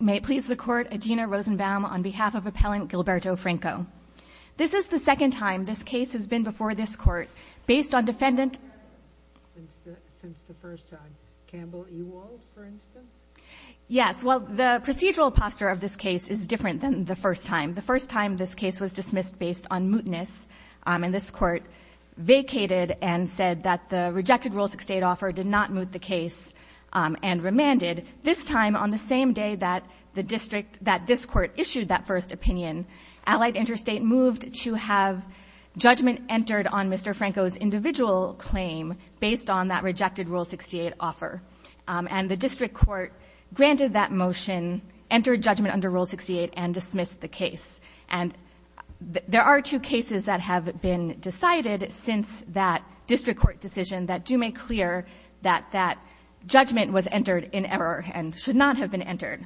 May it please the court, Adena Rosenbaum on behalf of Appellant Gilberto Franco. This is the second time this case has been before this court, based on defendant- Since the first time. Campbell Ewald, for instance? Yes. Well, the procedural posture of this case is different than the first time. The first time this case was dismissed based on mootness, and this court vacated and said that the rejected rules of state offer did not moot the case and remanded. And this time, on the same day that the district- that this court issued that first opinion, Allied Interstate moved to have judgment entered on Mr. Franco's individual claim based on that rejected Rule 68 offer. And the district court granted that motion, entered judgment under Rule 68, and dismissed the case. And there are two cases that have been decided since that district court decision that do not make clear that that judgment was entered in error and should not have been entered.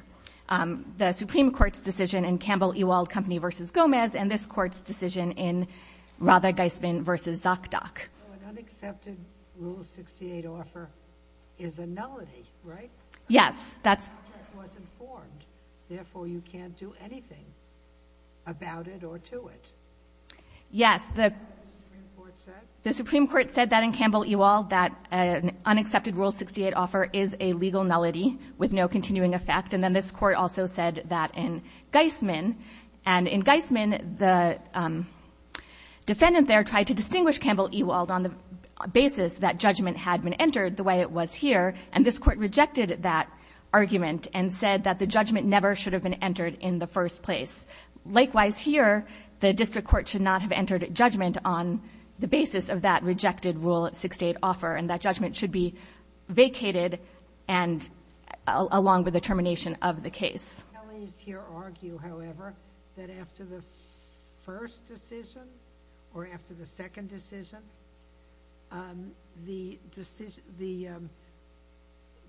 The Supreme Court's decision in Campbell Ewald Company v. Gomez, and this court's decision in Rather-Geismann v. Zokdok. An unaccepted Rule 68 offer is a nullity, right? Yes. That's- The object wasn't formed. Therefore, you can't do anything about it or to it. Yes. The Supreme Court said- An unaccepted Rule 68 offer is a legal nullity with no continuing effect. And then this court also said that in Geismann. And in Geismann, the defendant there tried to distinguish Campbell Ewald on the basis that judgment had been entered the way it was here, and this court rejected that argument and said that the judgment never should have been entered in the first place. Likewise here, the district court should not have entered judgment on the basis of that rejected Rule 68 offer. And that judgment should be vacated and along with the termination of the case. The Kellys here argue, however, that after the first decision or after the second decision, the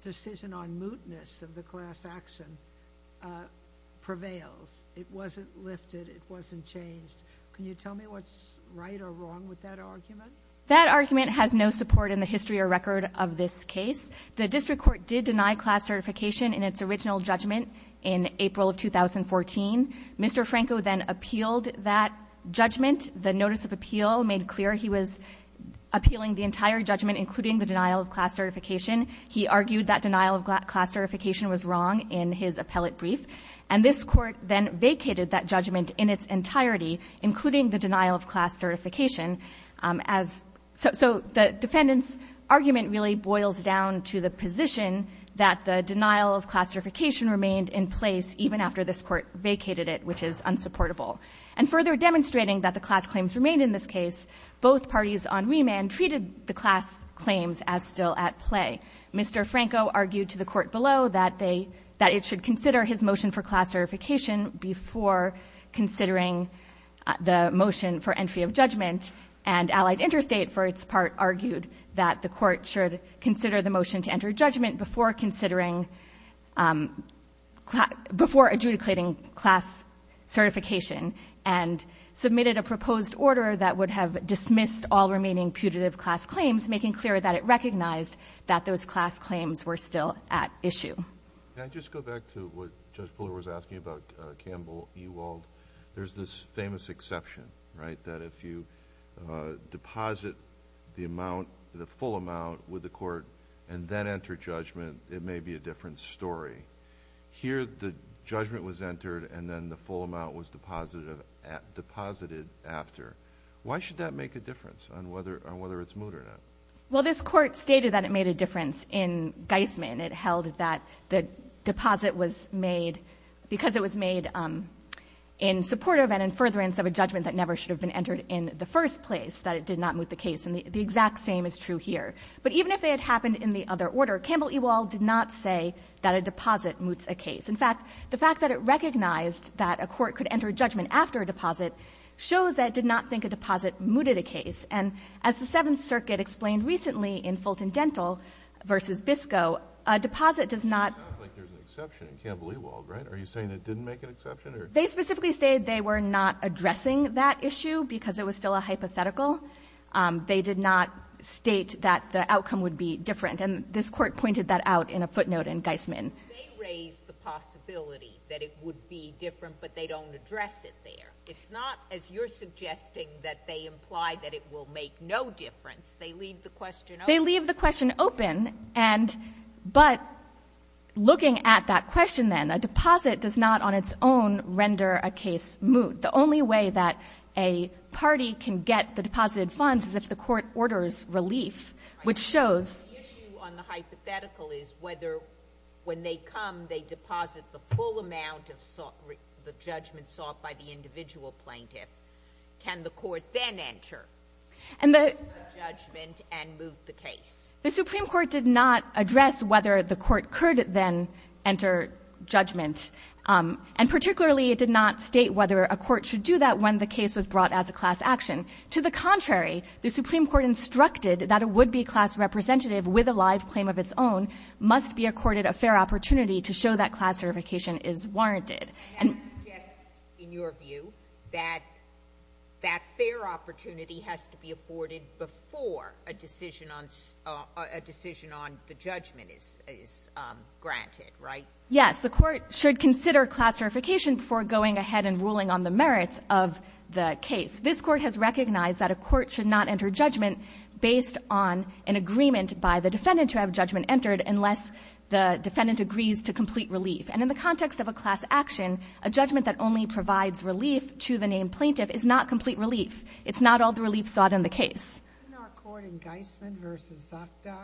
decision on mootness of the class action prevails. It wasn't lifted. It wasn't changed. Can you tell me what's right or wrong with that argument? That argument has no support in the history or record of this case. The district court did deny class certification in its original judgment in April of 2014. Mr. Franco then appealed that judgment. The notice of appeal made clear he was appealing the entire judgment, including the denial of class certification. He argued that denial of class certification was wrong in his appellate brief. And this court then vacated that judgment in its entirety, including the denial of class certification. As so the defendant's argument really boils down to the position that the denial of class certification remained in place even after this court vacated it, which is unsupportable. And further demonstrating that the class claims remained in this case, both parties on remand treated the class claims as still at play. Mr. Franco argued to the court below that they, that it should consider his motion for class certification before considering the motion for entry of judgment. And allied interstate for its part argued that the court should consider the motion to enter judgment before considering, before adjudicating class certification. And submitted a proposed order that would have dismissed all remaining putative class claims, making clear that it recognized that those class claims were still at issue. Can I just go back to what Judge Buller was asking about Campbell Ewald? There's this famous exception, right, that if you deposit the amount, the full amount with the court and then enter judgment, it may be a different story. Here the judgment was entered and then the full amount was deposited after. Why should that make a difference on whether it's moot or not? Well this court stated that it made a difference in Geisman. It held that the deposit was made because it was made in support of and in furtherance of a judgment that never should have been entered in the first place. That it did not moot the case. And the exact same is true here. But even if it had happened in the other order, Campbell Ewald did not say that a deposit moots a case. In fact, the fact that it recognized that a court could enter judgment after a deposit shows that it did not think a deposit mooted a case. And as the Seventh Circuit explained recently in Fulton Dental versus Bisco, a deposit does not. It sounds like there's an exception in Campbell Ewald, right? Are you saying it didn't make an exception? They specifically say they were not addressing that issue because it was still a hypothetical. They did not state that the outcome would be different. And this court pointed that out in a footnote in Geisman. They raised the possibility that it would be different, but they don't address it there. It's not, as you're suggesting, that they imply that it will make no difference. They leave the question open. They leave the question open, but looking at that question then, a deposit does not on its own render a case moot. The only way that a party can get the deposited funds is if the court orders relief, which shows. The issue on the hypothetical is whether when they come, they deposit the full amount of the judgment sought by the individual plaintiff. Can the court then enter the judgment and move the case? The Supreme Court did not address whether the court could then enter judgment. And particularly, it did not state whether a court should do that when the case was brought as a class action. To the contrary, the Supreme Court instructed that a would-be class representative with a live claim of its own must be accorded a fair opportunity to show that class verification is warranted. And that suggests, in your view, that that fair opportunity has to be afforded before a decision on a decision on the judgment is granted, right? Yes. The court should consider class verification before going ahead and ruling on the merits of the case. This Court has recognized that a court should not enter judgment based on an agreement by the defendant to have judgment entered unless the defendant agrees to complete relief. And in the context of a class action, a judgment that only provides relief to the named plaintiff is not complete relief. It's not all the relief sought in the case. Didn't our court in Geisman v. Zotko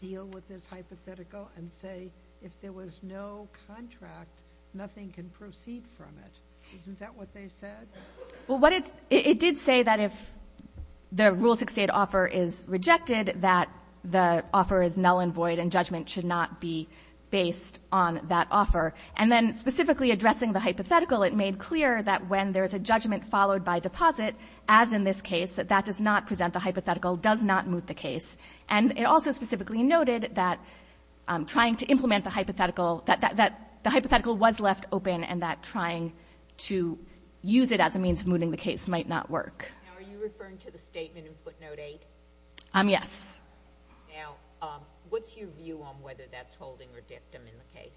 deal with this hypothetical and say if there was no contract, nothing can proceed from it? Isn't that what they said? Well, what it's — it did say that if the rule 68 offer is rejected, that the offer is null and void and judgment should not be based on that offer. And then specifically addressing the hypothetical, it made clear that when there's a judgment followed by deposit, as in this case, that that does not present the hypothetical, does not moot the case. And it also specifically noted that trying to implement the hypothetical — that the to use it as a means of mooting the case might not work. Now, are you referring to the statement in footnote 8? Yes. Now, what's your view on whether that's holding or dictum in the case?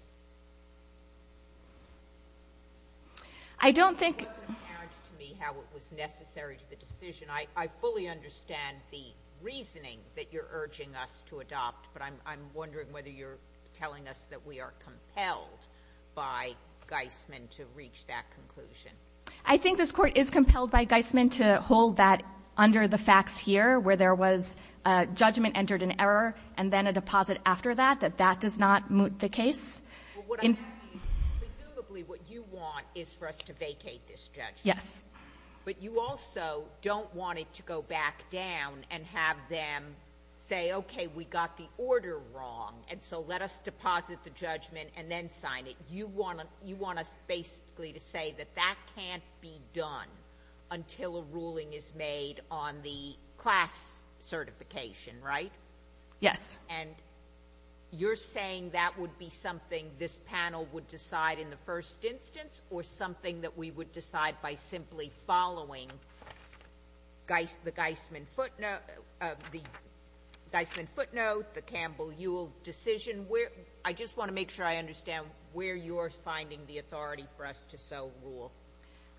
I don't think — It doesn't add to me how it was necessary to the decision. I fully understand the reasoning that you're urging us to adopt, but I'm wondering whether you're telling us that we are compelled by Geisman to reach that conclusion. I think this Court is compelled by Geisman to hold that under the facts here, where there was a judgment entered in error and then a deposit after that, that that does not moot the case. Well, what I'm asking is, presumably what you want is for us to vacate this judgment. Yes. But you also don't want it to go back down and have them say, okay, we got the order wrong, and so let us deposit the judgment and then sign it. You want us basically to say that that can't be done until a ruling is made on the class certification, right? Yes. And you're saying that would be something this panel would decide in the first instance or something that we would decide by simply following the Geisman footnote, the Campbell Ewald decision? I just want to make sure I understand where you're finding the authority for us to so rule.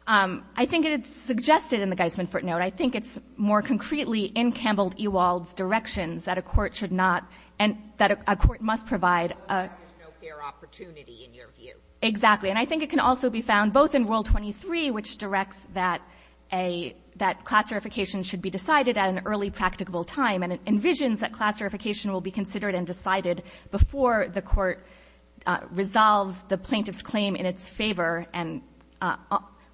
I think it's suggested in the Geisman footnote. I think it's more concretely in Campbell Ewald's directions that a court should not and that a court must provide a — Because there's no fair opportunity, in your view. Exactly. And I think it can also be found both in Rule 23, which directs that a — that class certification should be decided at an early, practicable time, and it envisions that class certification will be considered and decided before the court resolves the plaintiff's claim in its favor and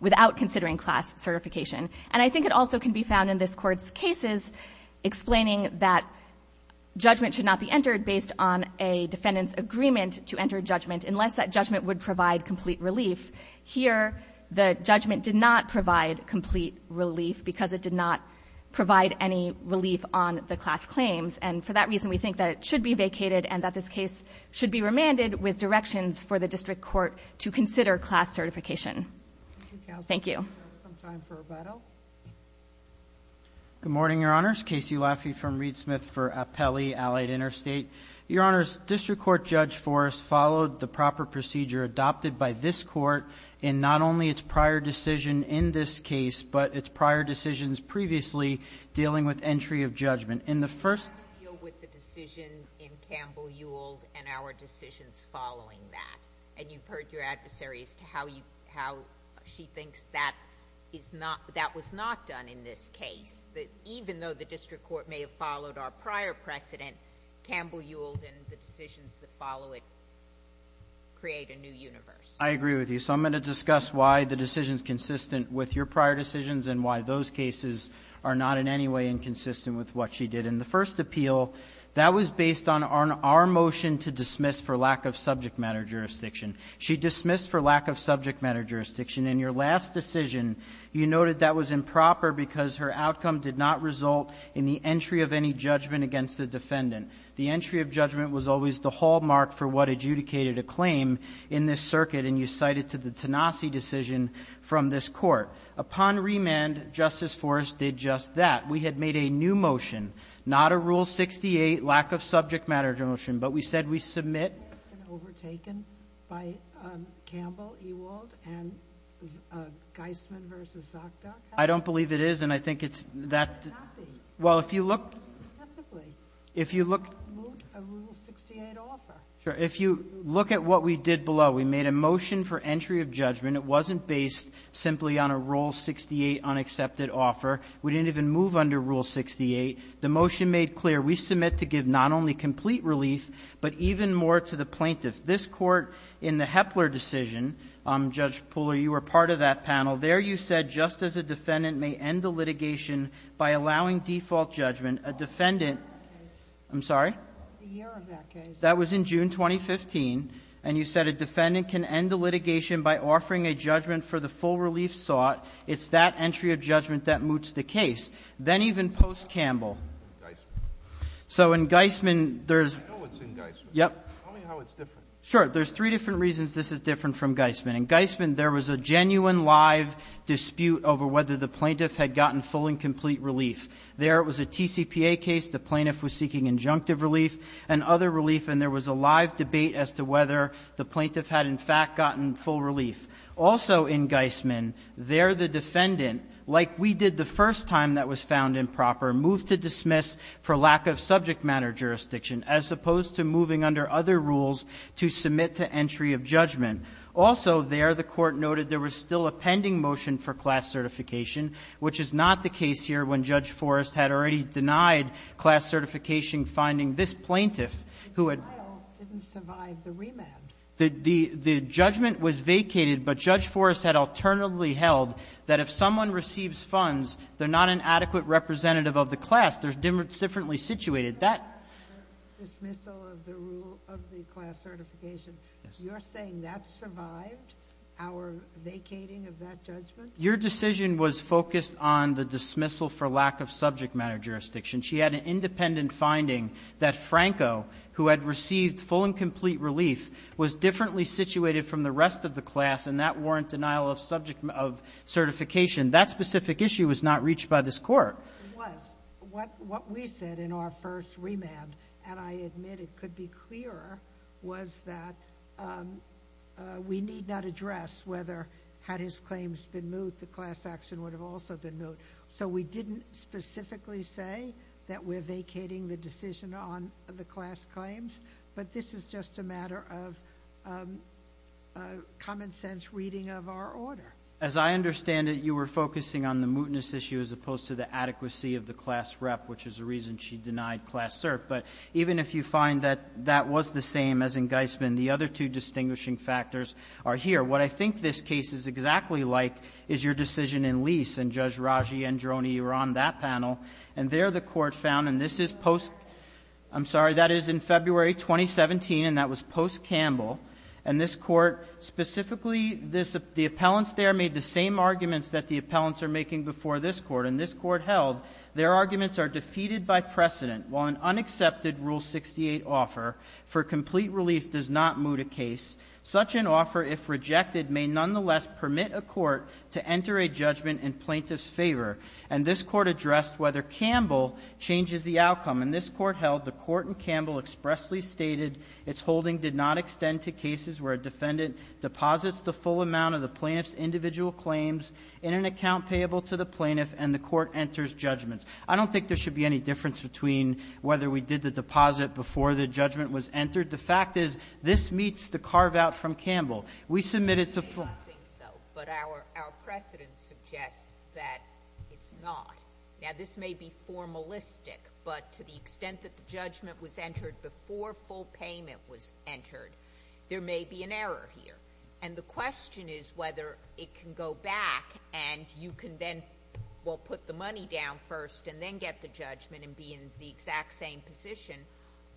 without considering class certification. And I think it also can be found in this Court's cases explaining that judgment should not be entered based on a defendant's agreement to enter judgment unless that judgment would provide complete relief. Here, the judgment did not provide complete relief because it did not provide any claims. And for that reason, we think that it should be vacated and that this case should be remanded with directions for the district court to consider class certification. Thank you. We have some time for rebuttal. Good morning, Your Honors. Casey Laffey from Reed Smith for Appellee, Allied Interstate. Your Honors, District Court Judge Forrest followed the proper procedure adopted by this Court in not only its prior decision in this case, but its prior decisions previously dealing with entry of judgment. In the first— I deal with the decision in Campbell-Ewald and our decisions following that. And you've heard your adversary as to how she thinks that was not done in this case, that even though the district court may have followed our prior precedent, Campbell-Ewald and the decisions that follow it create a new universe. I agree with you. So I'm going to discuss why the decision is consistent with your prior decisions and why those cases are not in any way inconsistent with what she did. In the first appeal, that was based on our motion to dismiss for lack of subject matter jurisdiction. She dismissed for lack of subject matter jurisdiction. In your last decision, you noted that was improper because her outcome did not result in the entry of any judgment against the defendant. The entry of judgment was always the hallmark for what adjudicated a claim in this circuit, and you cite it to the Tenassi decision from this Court. Upon remand, Justice Forrest did just that. We had made a new motion, not a Rule 68, lack of subject matter motion, but we said we submit— Has that been overtaken by Campbell-Ewald and Geisman v. Sokdak? I don't believe it is, and I think it's that— It could not be. Well, if you look— Specifically. If you look— What would a Rule 68 offer? Sure. If you look at what we did below, we made a motion for entry of judgment. It wasn't based simply on a Rule 68 unaccepted offer. We didn't even move under Rule 68. The motion made clear we submit to give not only complete relief, but even more to the plaintiff. This Court, in the Hepler decision, Judge Pooler, you were part of that panel. There you said just as a defendant may end a litigation by allowing default judgment, a defendant— It's the year of that case. I'm sorry? It's the year of that case. That was in June 2015, and you said a defendant can end a litigation by offering a judgment for the full relief sought. It's that entry of judgment that moots the case. Then even post-Campbell— In Geisman. So in Geisman, there's— I know it's in Geisman. Yep. Tell me how it's different. There's three different reasons this is different from Geisman. In Geisman, there was a genuine live dispute over whether the plaintiff had gotten full and complete relief. There, it was a TCPA case. The plaintiff was seeking injunctive relief and other relief, and there was a live debate as to whether the plaintiff had, in fact, gotten full relief. Also in Geisman, there the defendant, like we did the first time that was found improper, moved to dismiss for lack of subject matter jurisdiction, as opposed to moving under other rules to submit to entry of judgment. Also there, the Court noted there was still a pending motion for class certification, which is not the case here when Judge Forrest had already denied class certification finding this plaintiff, who had— The trial didn't survive the remand. The judgment was vacated, but Judge Forrest had alternately held that if someone receives funds, they're not an adequate representative of the class. They're differently situated. That— The dismissal of the rule of the class certification, you're saying that survived our vacating of that judgment? Your decision was focused on the dismissal for lack of subject matter jurisdiction. She had an independent finding that Franco, who had received full and complete relief, was differently situated from the rest of the class, and that warrant denial of subject—of certification. That specific issue was not reached by this Court. It was. What we said in our first remand, and I admit it could be clearer, was that we need not address whether, had his claims been moved, the class action would have also been moved. So we didn't specifically say that we're vacating the decision on the class claims, but this is just a matter of common sense reading of our order. As I understand it, you were focusing on the mootness issue as opposed to the adequacy of the class rep, which is the reason she denied class cert. But even if you find that that was the same as in Geisman, the other two distinguishing factors are here. What I think this case is exactly like is your decision in Lease, and Judge Raggi-Androni, you were on that panel, and there the Court found—and this is post—I'm sorry, that is in February 2017, and that was post-Campbell. And this Court specifically—the appellants there made the same arguments that the appellants are making before this Court, and this Court held their arguments are defeated by precedent while an unaccepted Rule 68 offer for complete relief does not moot a case. Such an offer, if rejected, may nonetheless permit a court to enter a judgment in plaintiff's favor. And this Court addressed whether Campbell changes the outcome. And this Court held the Court in Campbell expressly stated its holding did not extend to cases where a defendant deposits the full amount of the plaintiff's individual claims in an account payable to the plaintiff, and the Court enters judgments. I don't think there should be any difference between whether we did the deposit before the judgment was entered. The fact is, this meets the carve-out from Campbell. We submitted to— But our precedent suggests that it's not. Now, this may be formalistic, but to the extent that the judgment was entered before full payment was entered, there may be an error here. And the question is whether it can go back and you can then, well, put the money down first and then get the judgment and be in the exact same position,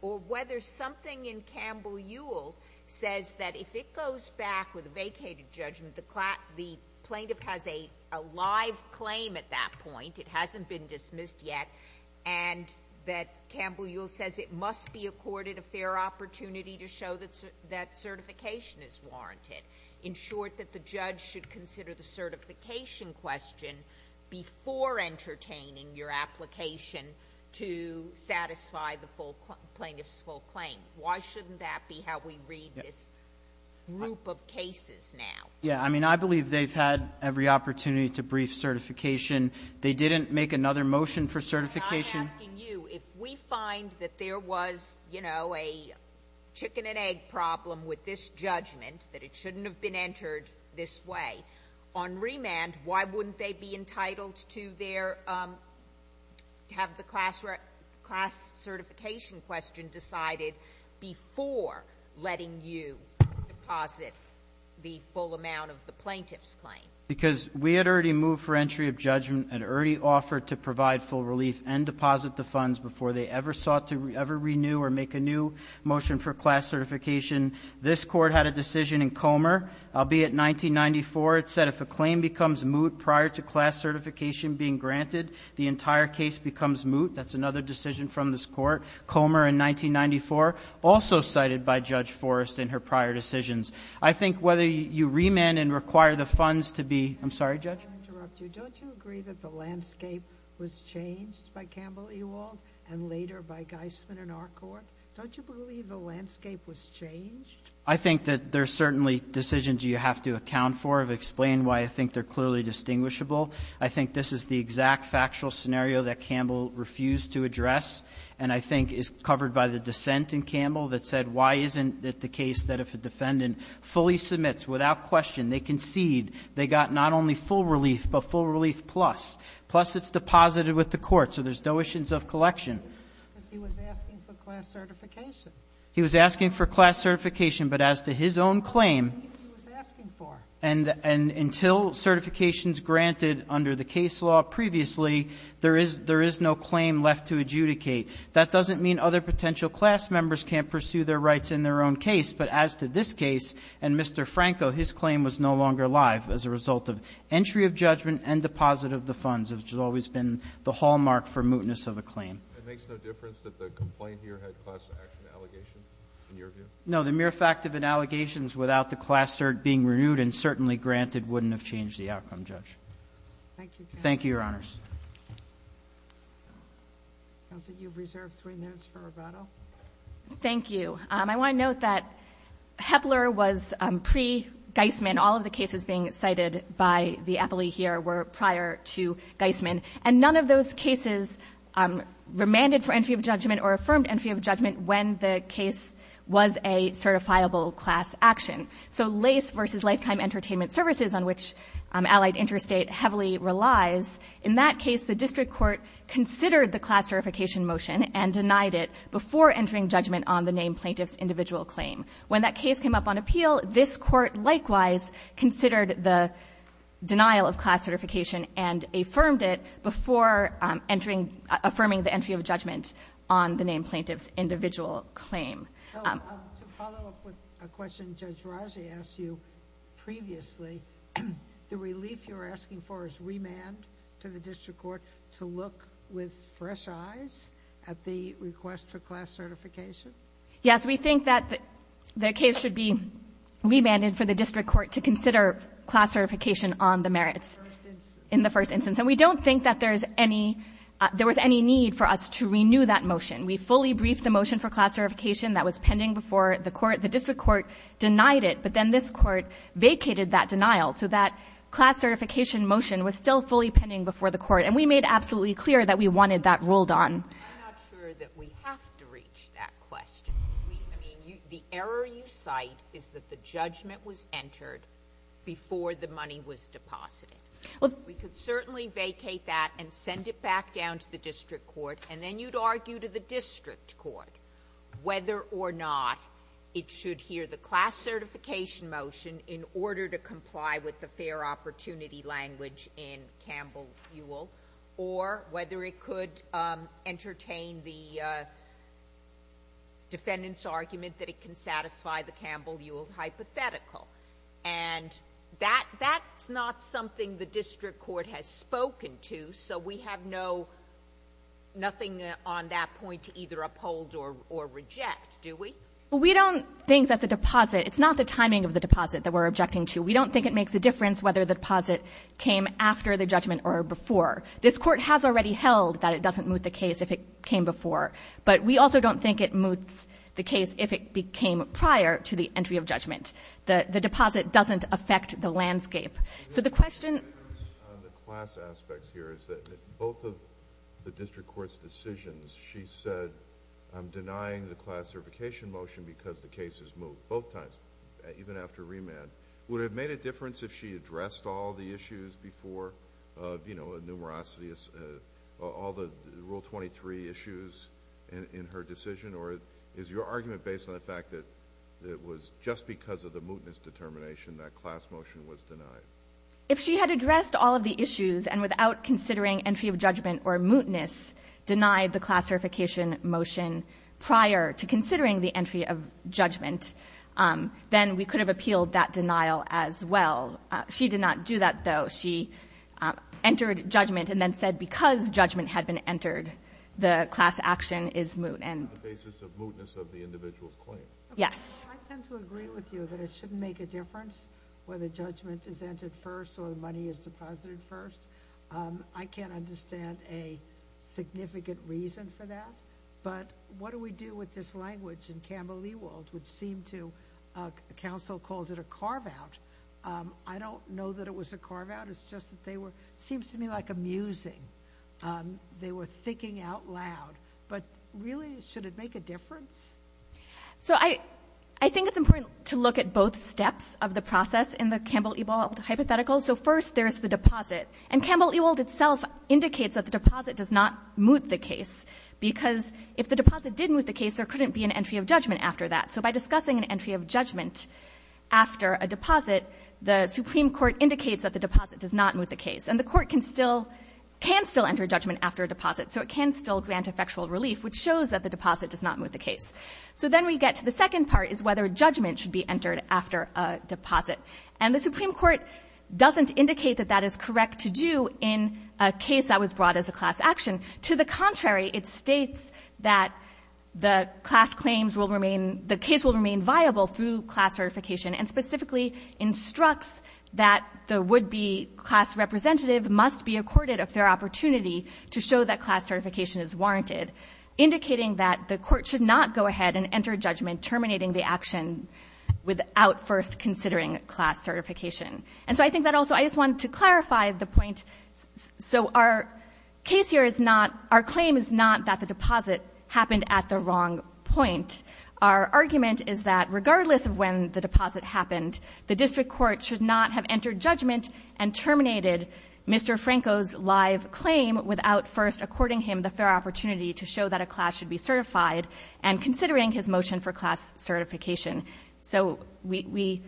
or whether something in Campbell-Ewell says that if it goes back with a vacated judgment, the plaintiff has a live claim at that point, it hasn't been dismissed yet, and that Campbell-Ewell says it must be accorded a fair opportunity to show that certification is warranted. In short, that the judge should consider the certification question before entertaining your application to satisfy the plaintiff's full claim. Why shouldn't that be how we read this group of cases now? Yeah. I mean, I believe they've had every opportunity to brief certification. They didn't make another motion for certification. I'm not asking you. If we find that there was, you know, a chicken-and-egg problem with this judgment, that it shouldn't have been entered this way, on remand, why wouldn't they be entitled to their — to have the class certification question decided before letting you deposit the full amount of the plaintiff's claim? Because we had already moved for entry of judgment and already offered to provide full relief and deposit the funds before they ever sought to ever renew or make a new motion for class certification. This Court had a decision in Comer, albeit 1994. It said if a claim becomes moot prior to class certification being granted, the entire case becomes moot. That's another decision from this Court. Comer in 1994, also cited by Judge Forrest in her prior decisions. I think whether you remand and require the funds to be — I'm sorry, Judge? Let me interrupt you. Don't you agree that the landscape was changed by Campbell Ewald and later by Geisman in our Court? Don't you believe the landscape was changed? I think that there's certainly decisions you have to account for. I've explained why I think they're clearly distinguishable. I think this is the exact factual scenario that Campbell refused to address and I think is covered by the dissent in Campbell that said why isn't it the case that if a defendant fully submits without question, they concede, they got not only full relief but full relief plus, plus it's deposited with the Court, so there's no issues of collection. Because he was asking for class certification. He was asking for class certification. But as to his own claim — He was asking for. And until certification is granted under the case law previously, there is no claim left to adjudicate. That doesn't mean other potential class members can't pursue their rights in their own case. But as to this case and Mr. Franco, his claim was no longer live as a result of entry of judgment and deposit of the funds, which has always been the hallmark for mootness of a claim. It makes no difference that the complaint here had class action allegations in your view? No. The mere fact of the allegations without the class cert being renewed and certainly granted wouldn't have changed the outcome, Judge. Thank you. Thank you, Your Honors. Counsel, you've reserved three minutes for bravado. Thank you. I want to note that Hepler was pre-Geismann. All of the cases being cited by the appellee here were prior to Geismann. And none of those cases remanded for entry of judgment or affirmed entry of judgment when the case was a certifiable class action. So LACE versus Lifetime Entertainment Services, on which Allied Interstate heavily relies, in that case, the district court considered the class certification motion and denied it before entering judgment on the named plaintiff's individual claim. When that case came up on appeal, this court likewise considered the denial of class certification and affirmed it before affirming the entry of judgment on the named plaintiff's individual claim. To follow up with a question Judge Raji asked you previously, the relief you're asking for is remand to the district court to look with fresh eyes at the request for class certification? Yes. We think that the case should be remanded for the district court to consider class certification on the merits. In the first instance. And we don't think that there was any need for us to renew that motion. We fully briefed the motion for class certification that was pending before the court. The district court denied it, but then this court vacated that denial. So that class certification motion was still fully pending before the court. And we made absolutely clear that we wanted that ruled on. I'm not sure that we have to reach that question. The error you cite is that the judgment was entered before the money was deposited. We could certainly vacate that and send it back down to the district court, and then you'd argue to the district court whether or not it should hear the class certification motion in order to comply with the fair opportunity language in Campbell-Ewell, or whether it could entertain the defendant's argument that it can satisfy the Campbell-Ewell hypothetical. And that's not something the district court has spoken to. So we have nothing on that point to either uphold or reject, do we? Well, we don't think that the deposit, it's not the timing of the deposit that we're objecting to. We don't think it makes a difference whether the deposit came after the judgment or before. This court has already held that it doesn't moot the case if it came before. But we also don't think it moots the case if it became prior to the entry of judgment. The deposit doesn't affect the landscape. So the question— The difference on the class aspects here is that both of the district court's decisions, she said, I'm denying the class certification motion because the case is moot both times, even after remand. Would it have made a difference if she addressed all the issues before, of, you know, numerosity, all the Rule 23 issues in her decision? Or is your argument based on the fact that it was just because of the mootness determination that class motion was denied? If she had addressed all of the issues and without considering entry of judgment or mootness denied the class certification motion prior to considering the entry of judgment, then we could have appealed that denial as well. She did not do that, though. She entered judgment and then said because judgment had been entered, the class action is moot. On the basis of mootness of the individual's claim. Yes. I tend to agree with you that it shouldn't make a difference whether judgment is entered first or the money is deposited first. I can't understand a significant reason for that. But what do we do with this language in Campbell-Leewald, which seemed to— counsel calls it a carve-out. I don't know that it was a carve-out. It's just that they were—seems to me like amusing. They were thinking out loud. But really, should it make a difference? So I think it's important to look at both steps of the process in the Campbell-Leewald hypothetical. So first, there's the deposit. And Campbell-Leewald itself indicates that the deposit does not moot the case because if the deposit did moot the case, there couldn't be an entry of judgment after that. So by discussing an entry of judgment after a deposit, the Supreme Court indicates that the deposit does not moot the case. And the court can still enter judgment after a deposit. So it can still grant effectual relief, which shows that the deposit does not moot the case. So then we get to the second part, is whether judgment should be entered after a deposit. And the Supreme Court doesn't indicate that that is correct to do in a case that was brought as a class action. To the contrary, it states that the class claims will remain—the case will remain viable through class certification, and specifically instructs that the would-be class representative must be accorded a fair opportunity to show that class certification is warranted, indicating that the court should not go ahead and enter judgment terminating the action without first considering class certification. And so I think that also—I just wanted to clarify the point. So our case here is not—our claim is not that the deposit happened at the wrong point. Our argument is that regardless of when the deposit happened, the district court should not have entered judgment and terminated Mr. Franco's live claim without first according him the fair opportunity to show that a class should be certified, and considering his motion for class certification. So we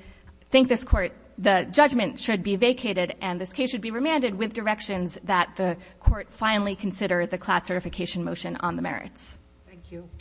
think this Court—the judgment should be vacated, and this case should be remanded with directions that the Court finally consider the class certification motion on the merits. Thank you.